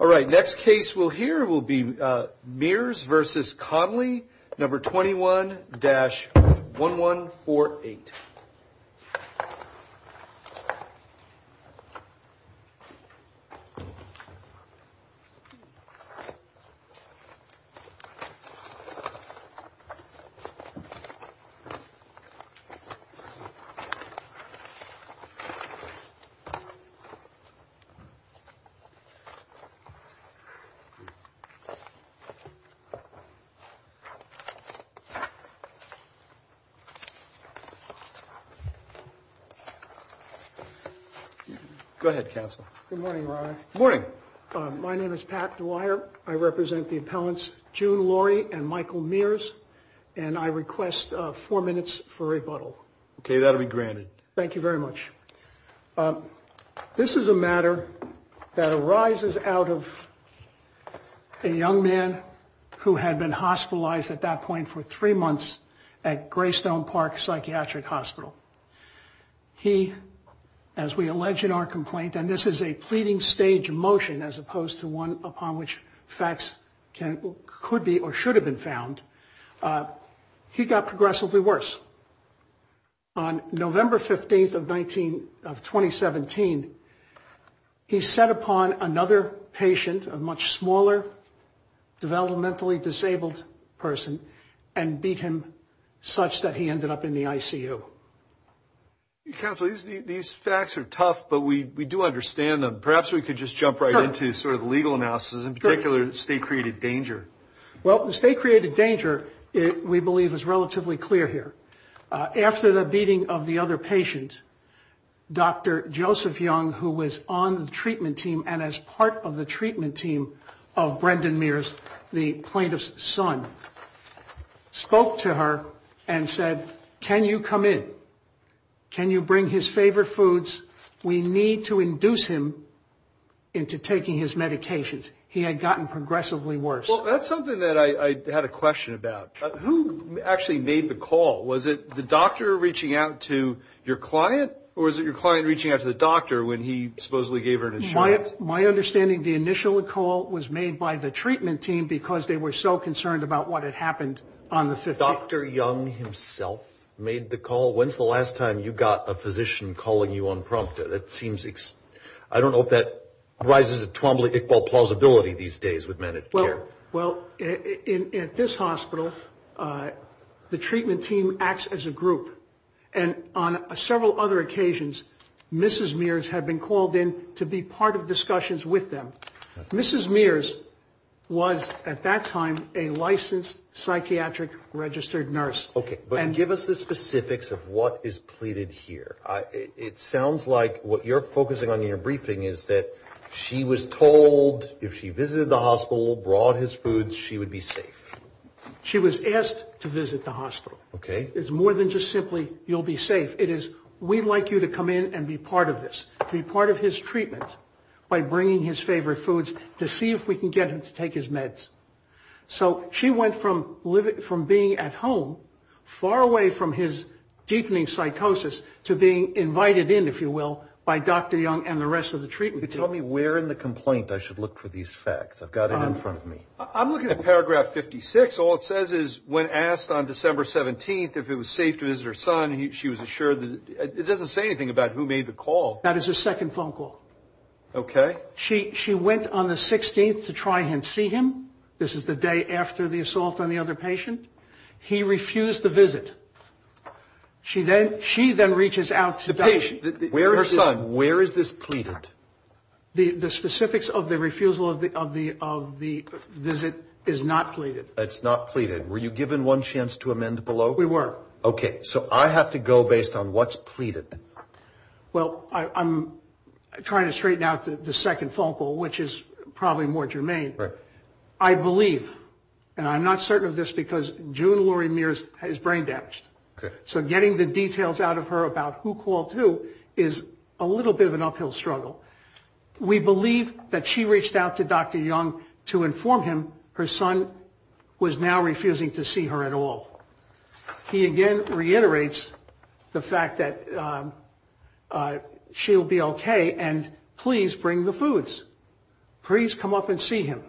Alright, next case we'll hear will be Mears v. Connolly, No. 21-1148. Go ahead, counsel. Good morning, Your Honor. Good morning. My name is Pat Dwyer. I represent the appellants June Laurie and Michael Mears, and I request four minutes for rebuttal. Okay, that'll be granted. Thank you very much. This is a matter that arises out of a young man who had been hospitalized at that point for three months at Greystone Park Psychiatric Hospital. He, as we allege in our complaint, and this is a pleading stage motion as opposed to one upon which facts could be or should have been found, he got progressively worse. On November 15th of 2017, he sat upon another patient, a much smaller, developmentally disabled person, and beat him such that he ended up in the ICU. Counsel, these facts are tough, but we do understand them. Perhaps we could just jump right into sort of the legal analysis, in particular the state-created danger. Well, the state-created danger, we believe, is relatively clear here. After the beating of the other patient, Dr. Joseph Young, who was on the treatment team and as part of the treatment team of Brendan Mears, the plaintiff's son, spoke to her and said, can you come in? Can you bring his favorite foods? We need to induce him into taking his medications. He had gotten progressively worse. Well, that's something that I had a question about. Who actually made the call? Was it the doctor reaching out to your client, or was it your client reaching out to the doctor when he supposedly gave her an insurance? My understanding, the initial call was made by the treatment team because they were so concerned about what had happened on the 15th. Dr. Young himself made the call? When's the last time you got a physician calling you on prompt? I don't know if that rises to Twombly Iqbal plausibility these days with men in care. Well, at this hospital, the treatment team acts as a group, and on several other occasions, Mrs. Mears had been called in to be part of discussions with them. Mrs. Mears was, at that time, a licensed psychiatric registered nurse. Okay, but give us the specifics of what is pleaded here. It sounds like what you're focusing on in your briefing is that she was told if she visited the hospital, brought his foods, she would be safe. She was asked to visit the hospital. Okay. It's more than just simply, you'll be safe. It is, we'd like you to come in and be part of this, to be part of his treatment by bringing his favorite foods to see if we can get him to take his meds. So she went from being at home, far away from his deepening psychosis, to being invited in, if you will, by Dr. Young and the rest of the treatment team. Tell me where in the complaint I should look for these facts. I've got it in front of me. I'm looking at paragraph 56. All it says is when asked on December 17th if it was safe to visit her son, she was assured. It doesn't say anything about who made the call. That is her second phone call. Okay. She went on the 16th to try and see him. This is the day after the assault on the other patient. He refused the visit. She then reaches out to the patient. Where is this pleaded? The specifics of the refusal of the visit is not pleaded. It's not pleaded. Were you given one chance to amend below? We were. Okay. So I have to go based on what's pleaded. Well, I'm trying to straighten out the second phone call, which is probably more germane. Right. I believe, and I'm not certain of this because June Laurie Mears has brain damage. Okay. So getting the details out of her about who called who is a little bit of an uphill struggle. We believe that she reached out to Dr. Young to inform him her son was now refusing to see her at all. He again reiterates the fact that she'll be okay, and please bring the foods. Please come up and see him.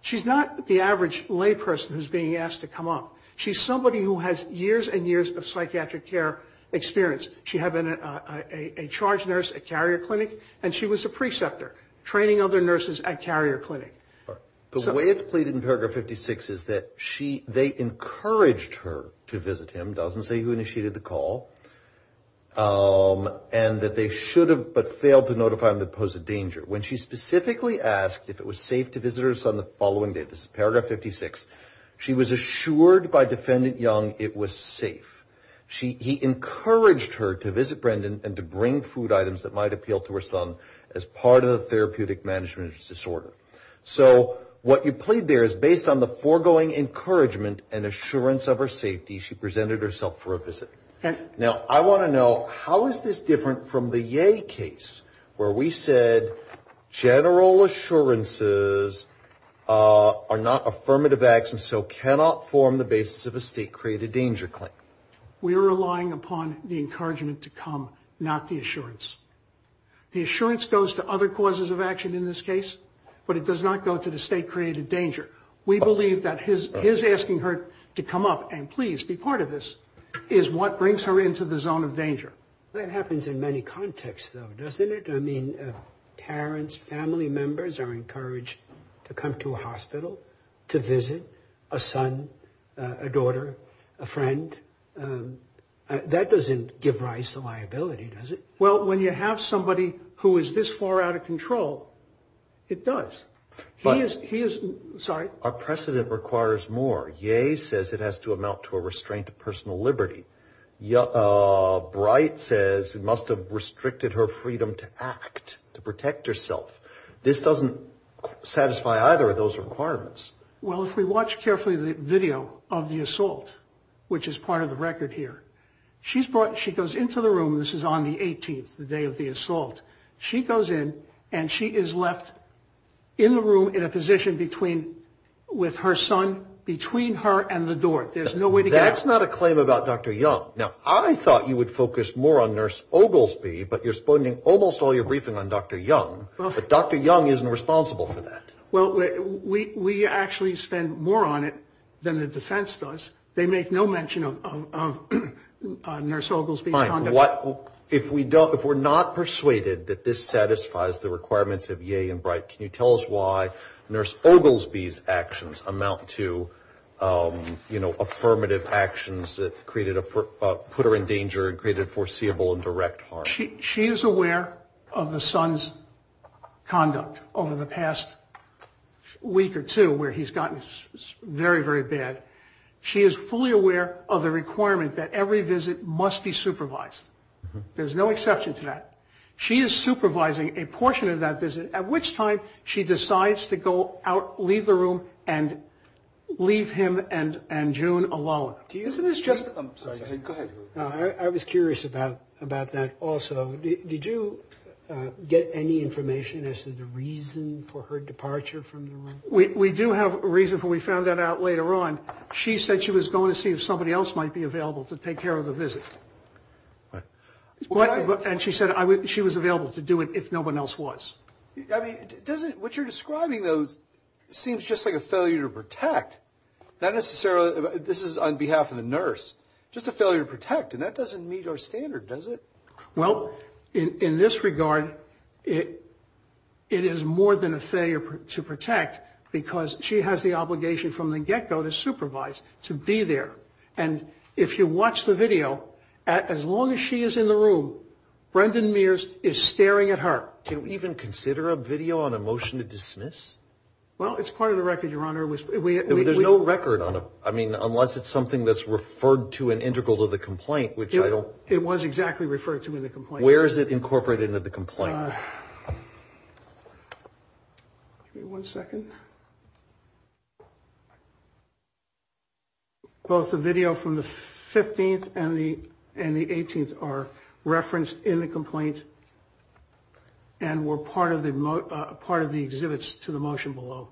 She's not the average lay person who's being asked to come up. She's somebody who has years and years of psychiatric care experience. She had been a charge nurse at Carrier Clinic, and she was a preceptor, training other nurses at Carrier Clinic. The way it's pleaded in paragraph 56 is that they encouraged her to visit him. It doesn't say who initiated the call. And that they should have but failed to notify him that it posed a danger. When she specifically asked if it was safe to visit her son the following day, this is paragraph 56, she was assured by Defendant Young it was safe. He encouraged her to visit Brendan and to bring food items that might appeal to her son as part of the therapeutic management disorder. So what you plead there is based on the foregoing encouragement and assurance of her safety, she presented herself for a visit. Okay. Now, I want to know, how is this different from the Ye case where we said general assurances are not affirmative actions so cannot form the basis of a state-created danger claim? We are relying upon the encouragement to come, not the assurance. The assurance goes to other causes of action in this case, but it does not go to the state-created danger. We believe that his asking her to come up and please be part of this is what brings her into the zone of danger. That happens in many contexts, though, doesn't it? I mean, parents, family members are encouraged to come to a hospital to visit a son, a daughter, a friend. That doesn't give rise to liability, does it? Well, when you have somebody who is this far out of control, it does. He is, sorry? Our precedent requires more. Ye says it has to amount to a restraint of personal liberty. Bright says it must have restricted her freedom to act, to protect herself. This doesn't satisfy either of those requirements. Well, if we watch carefully the video of the assault, which is part of the record here, she goes into the room. This is on the 18th, the day of the assault. She goes in and she is left in the room in a position with her son between her and the door. There's no way to get out. That's not a claim about Dr. Young. Now, I thought you would focus more on Nurse Oglesby, but you're spending almost all your briefing on Dr. Young. But Dr. Young isn't responsible for that. Well, we actually spend more on it than the defense does. They make no mention of Nurse Oglesby's conduct. If we're not persuaded that this satisfies the requirements of Ye and Bright, can you tell us why Nurse Oglesby's actions amount to, you know, affirmative actions that put her in danger and created foreseeable and direct harm? She is aware of the son's conduct over the past week or two where he's gotten very, very bad. She is fully aware of the requirement that every visit must be supervised. There's no exception to that. She is supervising a portion of that visit, at which time she decides to go out, leave the room, and leave him and June alone. Isn't this just ‑‑ I'm sorry. Go ahead. I was curious about that also. Did you get any information as to the reason for her departure from the room? We do have a reason for it. We found that out later on. She said she was going to see if somebody else might be available to take care of the visit. And she said she was available to do it if no one else was. I mean, what you're describing, though, seems just like a failure to protect. Not necessarily ‑‑ this is on behalf of the nurse. Just a failure to protect, and that doesn't meet our standard, does it? Well, in this regard, it is more than a failure to protect because she has the obligation from the get‑go to supervise, to be there. And if you watch the video, as long as she is in the room, Brendan Mears is staring at her. Can we even consider a video on a motion to dismiss? Well, it's part of the record, Your Honor. There's no record on it, I mean, unless it's something that's referred to in integral to the complaint, which I don't ‑‑ It was exactly referred to in the complaint. Where is it incorporated into the complaint? Give me one second. Both the video from the 15th and the 18th are referenced in the complaint and were part of the exhibits to the motion below.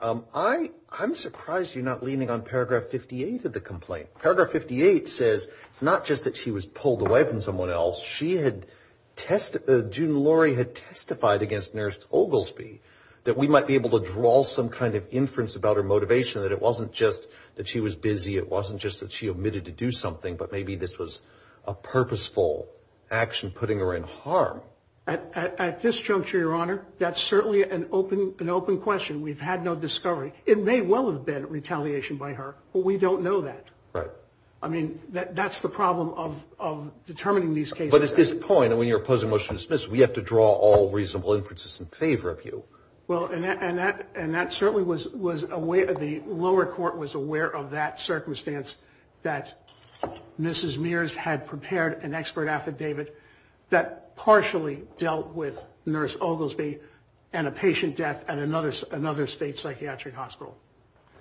Okay. I'm surprised you're not leaning on paragraph 58 of the complaint. Paragraph 58 says it's not just that she was pulled away from someone else. She had ‑‑ June Laurie had testified against Nurse Oglesby that we might be able to draw some kind of inference about her motivation, that it wasn't just that she was busy, it wasn't just that she omitted to do something, but maybe this was a purposeful action putting her in harm. At this juncture, Your Honor, that's certainly an open question. We've had no discovery. It may well have been retaliation by her, but we don't know that. Right. I mean, that's the problem of determining these cases. But at this point, when you're opposing motion to dismiss, we have to draw all reasonable inferences in favor of you. Well, and that certainly was a way that the lower court was aware of that circumstance that Mrs. Mears had prepared an expert affidavit that partially dealt with Nurse Oglesby and a patient death at another state psychiatric hospital.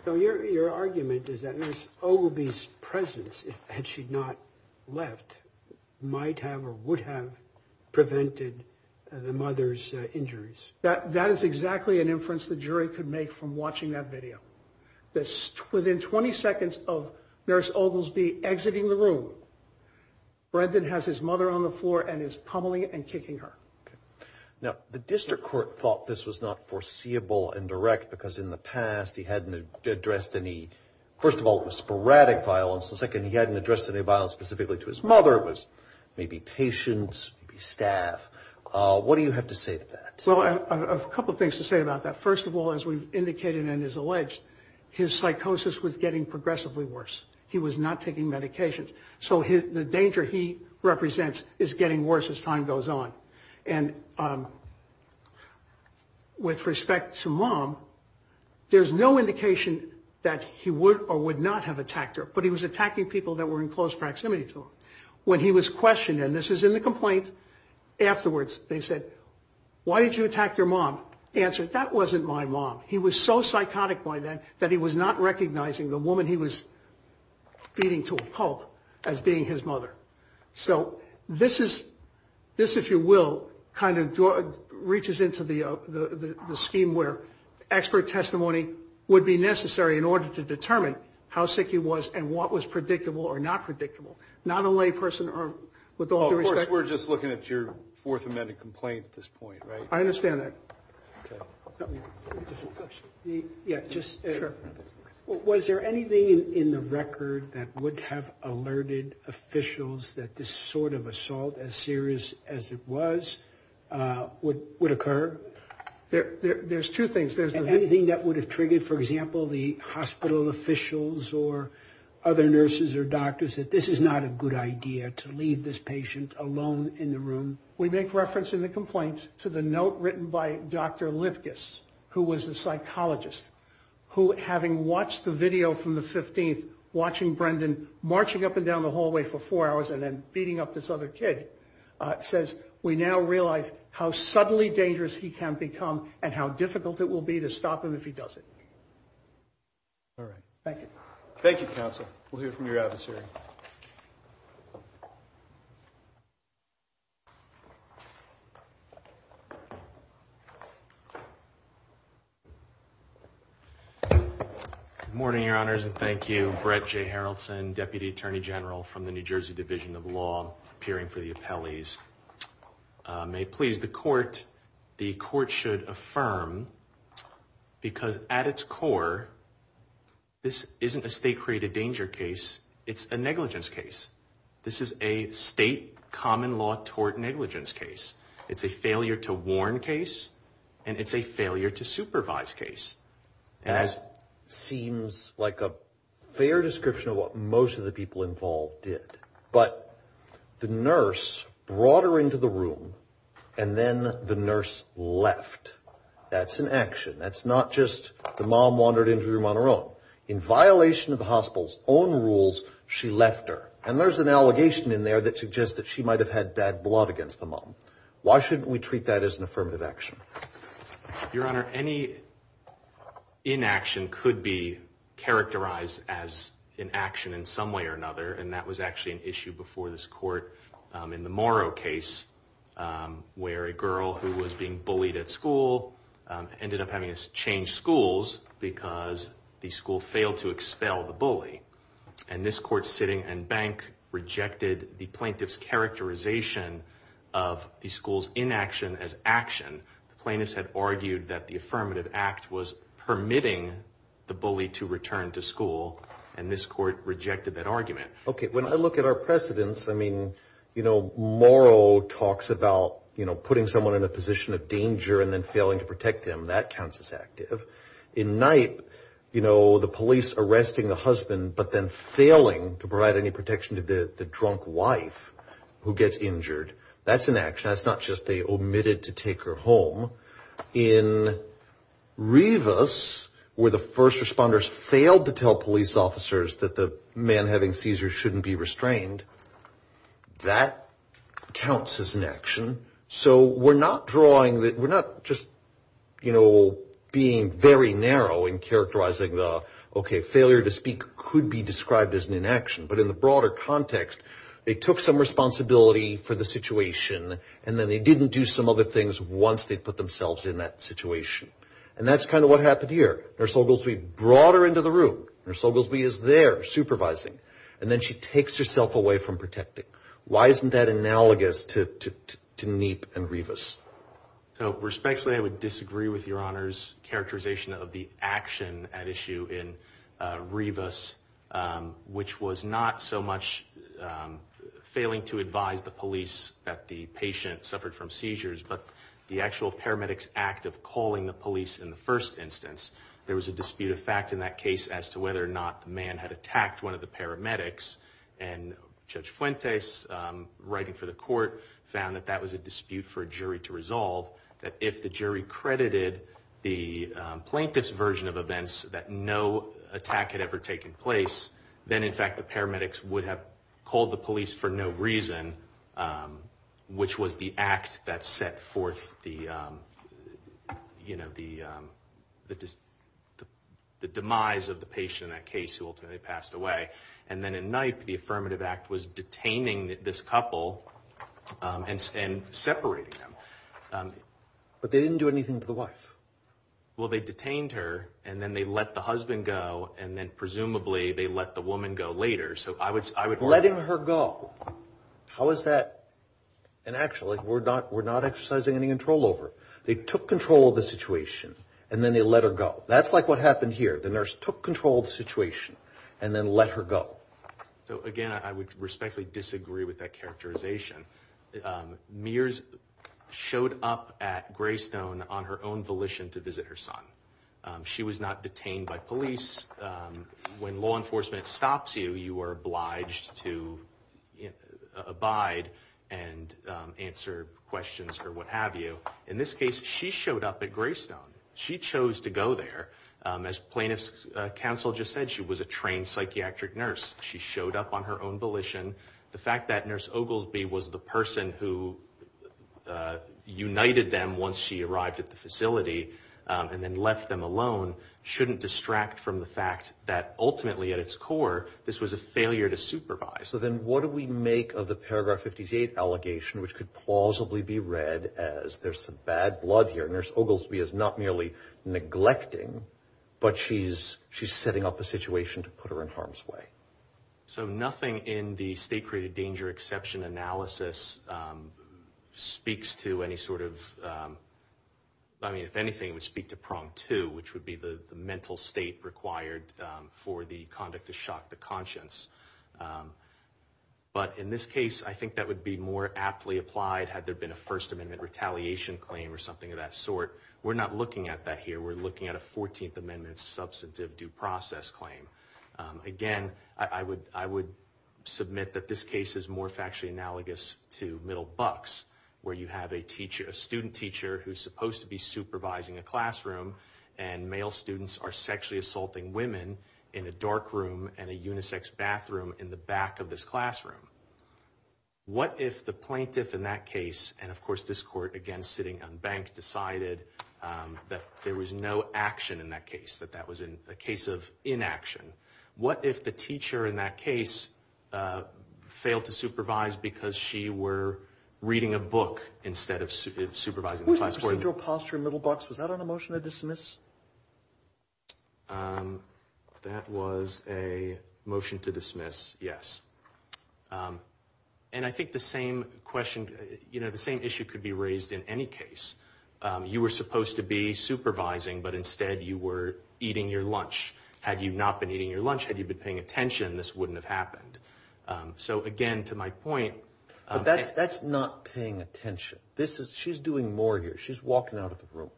So your argument is that Nurse Oglesby's presence, had she not left, might have or would have prevented the mother's injuries. That is exactly an inference the jury could make from watching that video. Within 20 seconds of Nurse Oglesby exiting the room, Brendan has his mother on the floor and is pummeling and kicking her. Now, the district court thought this was not foreseeable and direct because in the past he hadn't addressed any, first of all, it was sporadic violence. Second, he hadn't addressed any violence specifically to his mother. It was maybe patients, maybe staff. What do you have to say to that? Well, a couple of things to say about that. First of all, as we've indicated and as alleged, his psychosis was getting progressively worse. He was not taking medications. So the danger he represents is getting worse as time goes on. And with respect to mom, there's no indication that he would or would not have attacked her, but he was attacking people that were in close proximity to him. When he was questioned, and this is in the complaint, afterwards they said, why did you attack your mom? Answer, that wasn't my mom. He was so psychotic by then that he was not recognizing the woman he was beating to a pulp as being his mother. So this, if you will, kind of reaches into the scheme where expert testimony would be necessary in order to determine how sick he was and what was predictable or not predictable. Not only a person with all due respect. Of course, we're just looking at your Fourth Amendment complaint at this point, right? I understand that. Just a question. Yeah, just. Sure. Was there anything in the record that would have alerted officials that this sort of assault, as serious as it was, would occur? There's two things. Anything that would have triggered, for example, the hospital officials or other nurses or doctors that this is not a good idea to leave this patient alone in the room? We make reference in the complaint to the note written by Dr. Livges, who was a psychologist, who, having watched the video from the 15th, watching Brendan marching up and down the hallway for four hours and then beating up this other kid, says we now realize how suddenly dangerous he can become and how difficult it will be to stop him if he does it. All right. Thank you. Thank you, counsel. We'll hear from your advisory. Good morning, Your Honors, and thank you. Brett J. Harrelson, Deputy Attorney General from the New Jersey Division of Law, peering for the appellees. May it please the Court, the Court should affirm, because at its core, this isn't a state-created danger case. It's a negligence case. This is a state common law tort negligence case. It's a failure to warn case, and it's a failure to supervise case. That seems like a fair description of what most of the people involved did. But the nurse brought her into the room, and then the nurse left. That's an action. That's not just the mom wandered into the room on her own. In violation of the hospital's own rules, she left her. And there's an allegation in there that suggests that she might have had bad blood against the mom. Why shouldn't we treat that as an affirmative action? Your Honor, any inaction could be characterized as an action in some way or another, and that was actually an issue before this Court in the Morrow case, where a girl who was being bullied at school ended up having to change schools because the school failed to expel the bully. And this Court, sitting and bank, rejected the plaintiff's characterization of the school's inaction as action. The plaintiffs had argued that the affirmative act was permitting the bully to return to school, and this Court rejected that argument. Okay. When I look at our precedents, I mean, you know, Morrow talks about, you know, putting someone in a position of danger and then failing to protect him. That counts as active. In Knight, you know, the police arresting the husband but then failing to provide any protection to the drunk wife who gets injured, that's an action. That's not just they omitted to take her home. In Rivas, where the first responders failed to tell police officers that the man having seizures shouldn't be restrained, that counts as an action. So we're not drawing, we're not just, you know, being very narrow in characterizing the, okay, failure to speak could be described as an inaction. But in the broader context, they took some responsibility for the situation and then they didn't do some other things once they put themselves in that situation. And that's kind of what happened here. Nurse Oglesby brought her into the room. Nurse Oglesby is there supervising. And then she takes herself away from protecting. Why isn't that analogous to Neep and Rivas? Respectfully, I would disagree with Your Honor's characterization of the action at issue in Rivas, which was not so much failing to advise the police that the patient suffered from seizures, but the actual paramedics' act of calling the police in the first instance. There was a dispute of fact in that case as to whether or not the man had attacked one of the paramedics. And Judge Fuentes, writing for the court, found that that was a dispute for a jury to resolve, that if the jury credited the plaintiff's version of events that no attack had ever taken place, then in fact the paramedics would have called the police for no reason, which was the act that set forth the, you know, the demise of the patient in that case who ultimately passed away. And then in Nype, the affirmative act was detaining this couple and separating them. But they didn't do anything to the wife. Well, they detained her, and then they let the husband go, and then presumably they let the woman go later. So I would argue – Letting her go. How is that – and actually, we're not exercising any control over it. They took control of the situation, and then they let her go. That's like what happened here. The nurse took control of the situation and then let her go. So, again, I would respectfully disagree with that characterization. Mears showed up at Greystone on her own volition to visit her son. She was not detained by police. When law enforcement stops you, you are obliged to abide and answer questions or what have you. In this case, she showed up at Greystone. She chose to go there. As plaintiff's counsel just said, she was a trained psychiatric nurse. She showed up on her own volition. The fact that Nurse Oglesby was the person who united them once she arrived at the facility and then left them alone shouldn't distract from the fact that ultimately, at its core, this was a failure to supervise. So then what do we make of the paragraph 58 allegation, which could plausibly be read as, there's some bad blood here. Nurse Oglesby is not merely neglecting, but she's setting up a situation to put her in harm's way. So nothing in the state-created danger exception analysis speaks to any sort of— I mean, if anything, it would speak to prong two, which would be the mental state required for the conduct to shock the conscience. But in this case, I think that would be more aptly applied had there been a First Amendment retaliation claim or something of that sort. We're not looking at that here. We're looking at a 14th Amendment substantive due process claim. Again, I would submit that this case is more factually analogous to Middle Bucks, where you have a student teacher who's supposed to be supervising a classroom, and male students are sexually assaulting women in a dark room and a unisex bathroom in the back of this classroom. What if the plaintiff in that case, and of course this court, again, sitting unbanked, decided that there was no action in that case, that that was a case of inaction? What if the teacher in that case failed to supervise because she were reading a book instead of supervising the classroom? Procedural posture in Middle Bucks, was that on a motion to dismiss? That was a motion to dismiss, yes. And I think the same issue could be raised in any case. You were supposed to be supervising, but instead you were eating your lunch. Had you not been eating your lunch, had you been paying attention, this wouldn't have happened. So again, to my point- That's not paying attention. She's doing more here. She's walking out of the room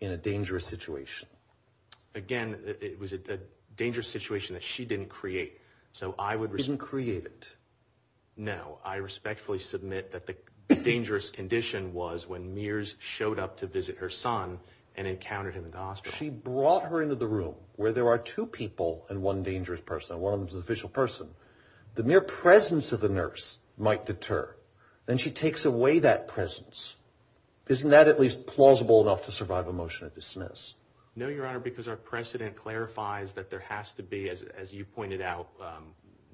in a dangerous situation. Again, it was a dangerous situation that she didn't create, so I would- She didn't create it. No. I respectfully submit that the dangerous condition was when Mears showed up to visit her son and encountered him in the hospital. She brought her into the room where there are two people and one dangerous person, and one of them is an official person. The mere presence of the nurse might deter, and she takes away that presence. Isn't that at least plausible enough to survive a motion to dismiss? No, Your Honor, because our precedent clarifies that there has to be, as you pointed out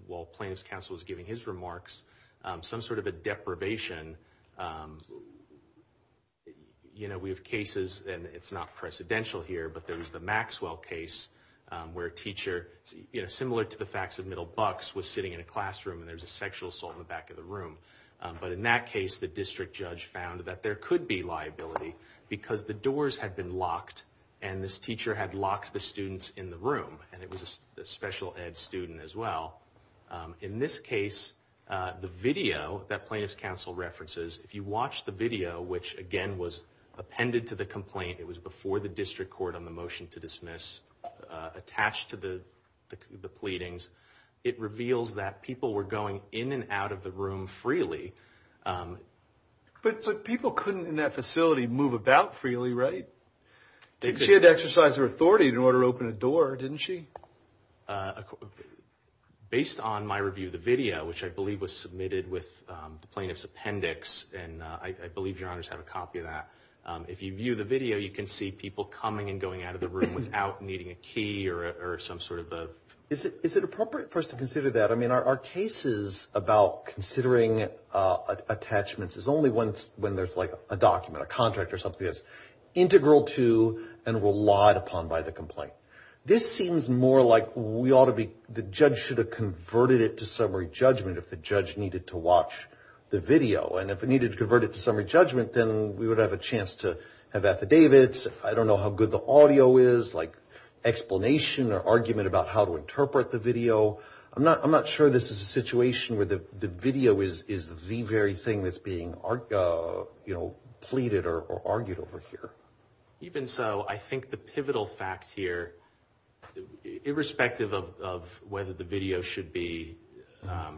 while Plaintiff's Counsel was giving his remarks, some sort of a deprivation. We have cases, and it's not precedential here, but there was the Maxwell case where a teacher, similar to the facts of middle bucks, was sitting in a classroom, and there was a sexual assault in the back of the room. But in that case, the district judge found that there could be liability because the doors had been locked, and this teacher had locked the students in the room, and it was a special ed student as well. In this case, the video that Plaintiff's Counsel references, if you watch the video, which again was appended to the complaint, it was before the district court on the motion to dismiss, attached to the pleadings, it reveals that people were going in and out of the room freely. But people couldn't in that facility move about freely, right? She had to exercise her authority in order to open a door, didn't she? Based on my review of the video, which I believe was submitted with the plaintiff's appendix, and I believe Your Honors have a copy of that, if you view the video, you can see people coming and going out of the room without needing a key or some sort of a... Is it appropriate for us to consider that? I mean, are cases about considering attachments is only when there's like a document, a contract or something, that's integral to and relied upon by the complaint. This seems more like we ought to be, the judge should have converted it to summary judgment if the judge needed to watch the video. And if it needed to convert it to summary judgment, then we would have a chance to have affidavits, I don't know how good the audio is, like explanation or argument about how to interpret the video. I'm not sure this is a situation where the video is the very thing that's being pleaded or argued over here. Even so, I think the pivotal fact here, irrespective of whether the video should be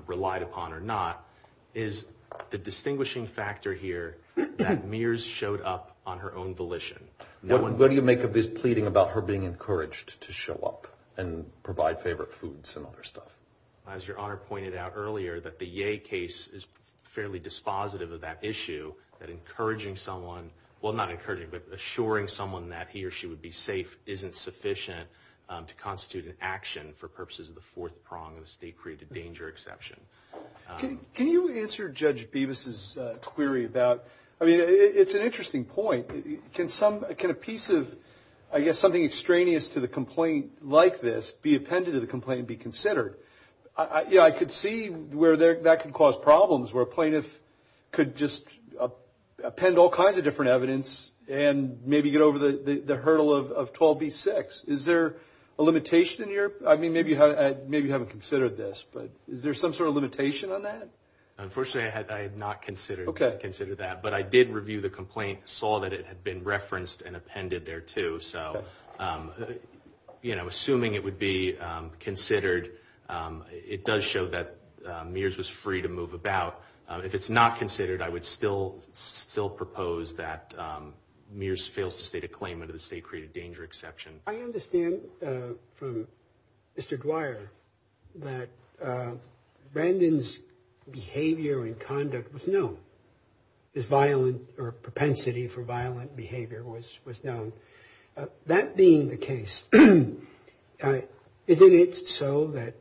relied upon or not, is the distinguishing factor here that Mears showed up on her own volition. What do you make of this pleading about her being encouraged to show up and provide favorite foods and other stuff? As Your Honor pointed out earlier, that the Ye case is fairly dispositive of that issue, that assuring someone that he or she would be safe isn't sufficient to constitute an action for purposes of the fourth prong of the state-created danger exception. Can you answer Judge Bevis' query about, it's an interesting point, can a piece of something extraneous to the complaint like this be appended to the complaint and be considered? Yeah, I could see where that could cause problems, where a plaintiff could just append all kinds of different evidence and maybe get over the hurdle of 12b-6. Is there a limitation in your, I mean, maybe you haven't considered this, but is there some sort of limitation on that? Unfortunately, I had not considered that, but I did review the complaint, saw that it had been referenced and appended there too. So, you know, assuming it would be considered, it does show that Mears was free to move about. If it's not considered, I would still propose that Mears fails to state a claim under the state-created danger exception. I understand from Mr. Dwyer that Brandon's behavior and conduct was known. His violent, or propensity for violent behavior was known. That being the case, isn't it so that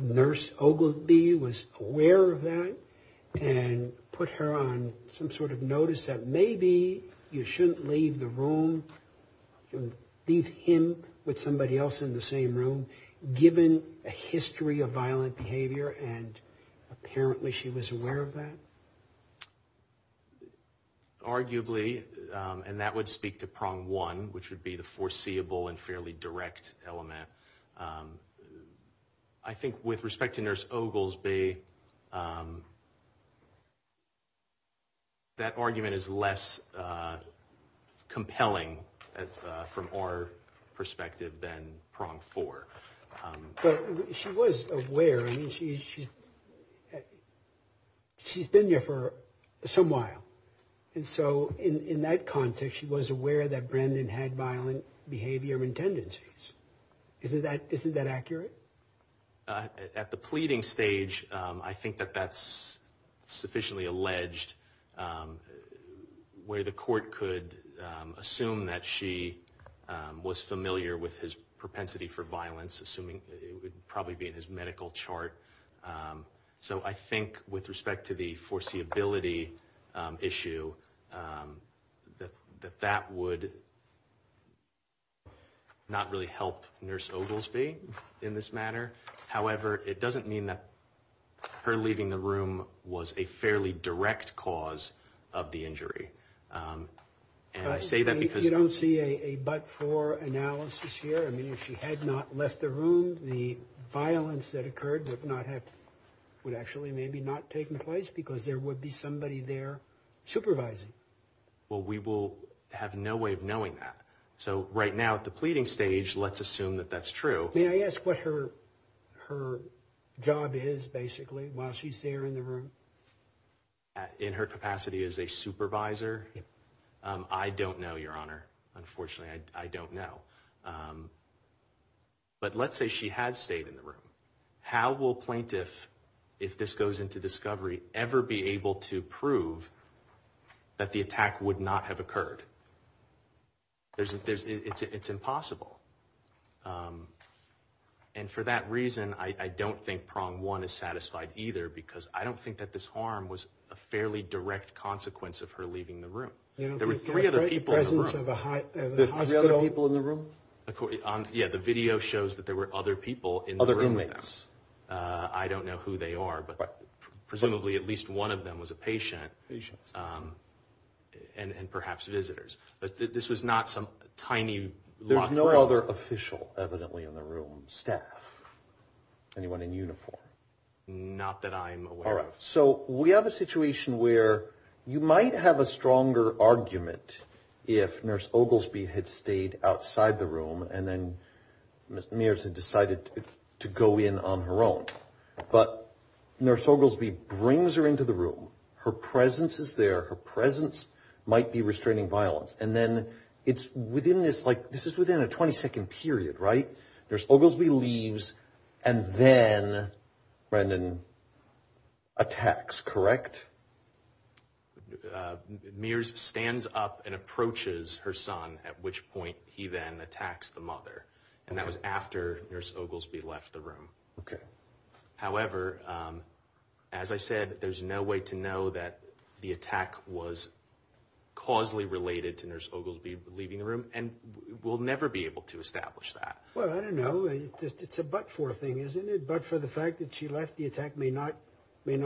Nurse Ogilvie was aware of that and put her on some sort of notice that maybe you shouldn't leave the room, leave him with somebody else in the same room, given a history of violent behavior, and apparently she was aware of that? Arguably, and that would speak to prong one, which would be the foreseeable and fairly direct element. I think with respect to Nurse Ogilvie, that argument is less compelling. From our perspective than prong four. But she was aware, I mean, she's been there for some while. And so in that context, she was aware that Brandon had violent behavior and tendencies. Isn't that accurate? At the pleading stage, I think that that's sufficiently alleged, where the court could assume that she was familiar with his propensity for violence, assuming it would probably be in his medical chart. So I think with respect to the foreseeability issue, that that would not really help Nurse Ogilvie in this matter. However, it doesn't mean that her leaving the room was a fairly direct cause of the injury. You don't see a but-for analysis here. I mean, if she had not left the room, the violence that occurred would actually maybe not have taken place because there would be somebody there supervising. Well, we will have no way of knowing that. So right now at the pleading stage, let's assume that that's true. May I ask what her job is, basically, while she's there in the room? In her capacity as a supervisor? I don't know, Your Honor. Unfortunately, I don't know. But let's say she had stayed in the room. How will plaintiff, if this goes into discovery, ever be able to prove that the attack would not have occurred? It's impossible. And for that reason, I don't think prong one is satisfied either, because I don't think that this harm was a fairly direct consequence of her leaving the room. There were three other people in the room. The other people in the room? Yeah, the video shows that there were other people in the room with them. Other roommates. I don't know who they are, but presumably at least one of them was a patient. Patients. And perhaps visitors. But this was not some tiny locked room. There's no other official, evidently, in the room. Staff? Anyone in uniform? Not that I'm aware of. So we have a situation where you might have a stronger argument if Nurse Oglesby had stayed outside the room and then Ms. Mears had decided to go in on her own. But Nurse Oglesby brings her into the room. Her presence is there. Her presence might be restraining violence. And then it's within this, like, this is within a 20-second period, right? Nurse Oglesby leaves and then Brendan attacks, correct? Mears stands up and approaches her son, at which point he then attacks the mother. And that was after Nurse Oglesby left the room. Okay. However, as I said, there's no way to know that the attack was causally related to Nurse Oglesby leaving the room. And we'll never be able to establish that. Well, I don't know. It's a but-for thing, isn't it? But for the fact that she left, the attack may not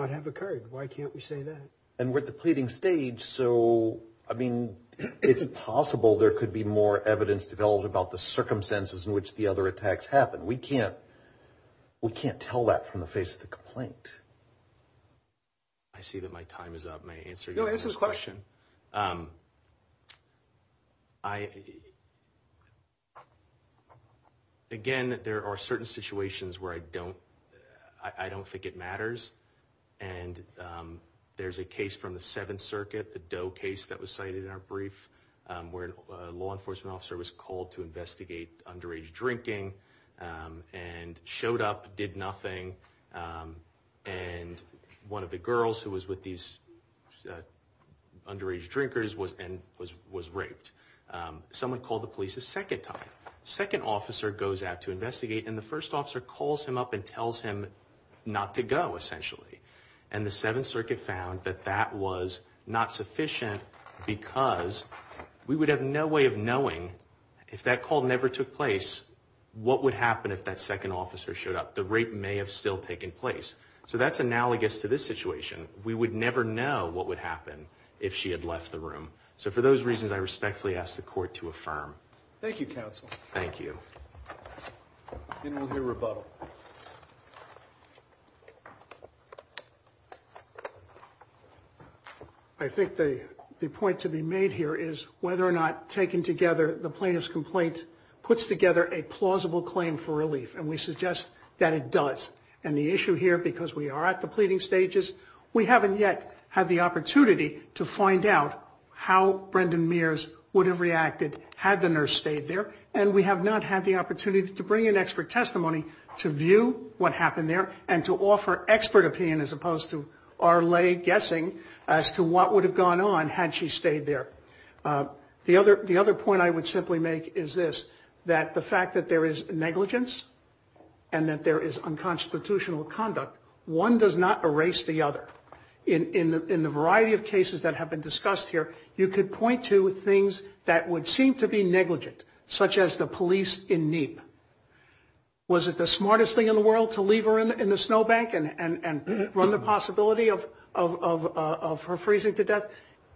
have occurred. Why can't we say that? And we're at the pleading stage. So, I mean, it's possible there could be more evidence developed about the circumstances in which the other attacks happened. We can't tell that from the face of the complaint. I see that my time is up. May I answer your next question? No, answer the question. Again, there are certain situations where I don't think it matters. And there's a case from the Seventh Circuit, the Doe case that was cited in our brief, where a law enforcement officer was called to investigate underage drinking and showed up, did nothing. And one of the girls who was with these underage drinkers was raped. Someone called the police a second time. The second officer goes out to investigate, and the first officer calls him up and tells him not to go, essentially. And the Seventh Circuit found that that was not sufficient because we would have no way of knowing, if that call never took place, what would happen if that second officer showed up. The rape may have still taken place. So that's analogous to this situation. We would never know what would happen if she had left the room. So for those reasons, I respectfully ask the Court to affirm. Thank you, counsel. Thank you. Then we'll hear rebuttal. I think the point to be made here is whether or not, taken together, the plaintiff's complaint puts together a plausible claim for relief. And we suggest that it does. And the issue here, because we are at the pleading stages, we haven't yet had the opportunity to find out how Brendan Mears would have reacted had the nurse stayed there. And we have not had the opportunity to bring in expert testimony to view what happened there and to offer expert opinion as opposed to our lay guessing as to what would have gone on had she stayed there. The other point I would simply make is this, that the fact that there is negligence and that there is unconstitutional conduct, one does not erase the other. In the variety of cases that have been discussed here, you could point to things that would seem to be negligent, such as the police in Neep. Was it the smartest thing in the world to leave her in the snowbank and run the possibility of her freezing to death?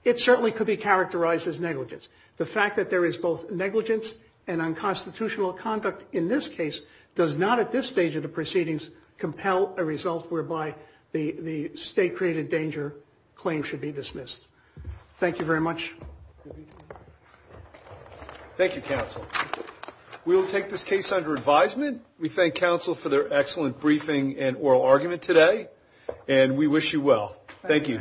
It certainly could be characterized as negligence. The fact that there is both negligence and unconstitutional conduct in this case does not, at this stage of the proceedings, compel a result whereby the state-created danger claim should be dismissed. Thank you very much. Thank you, counsel. We will take this case under advisement. We thank counsel for their excellent briefing and oral argument today. And we wish you well. Thank you.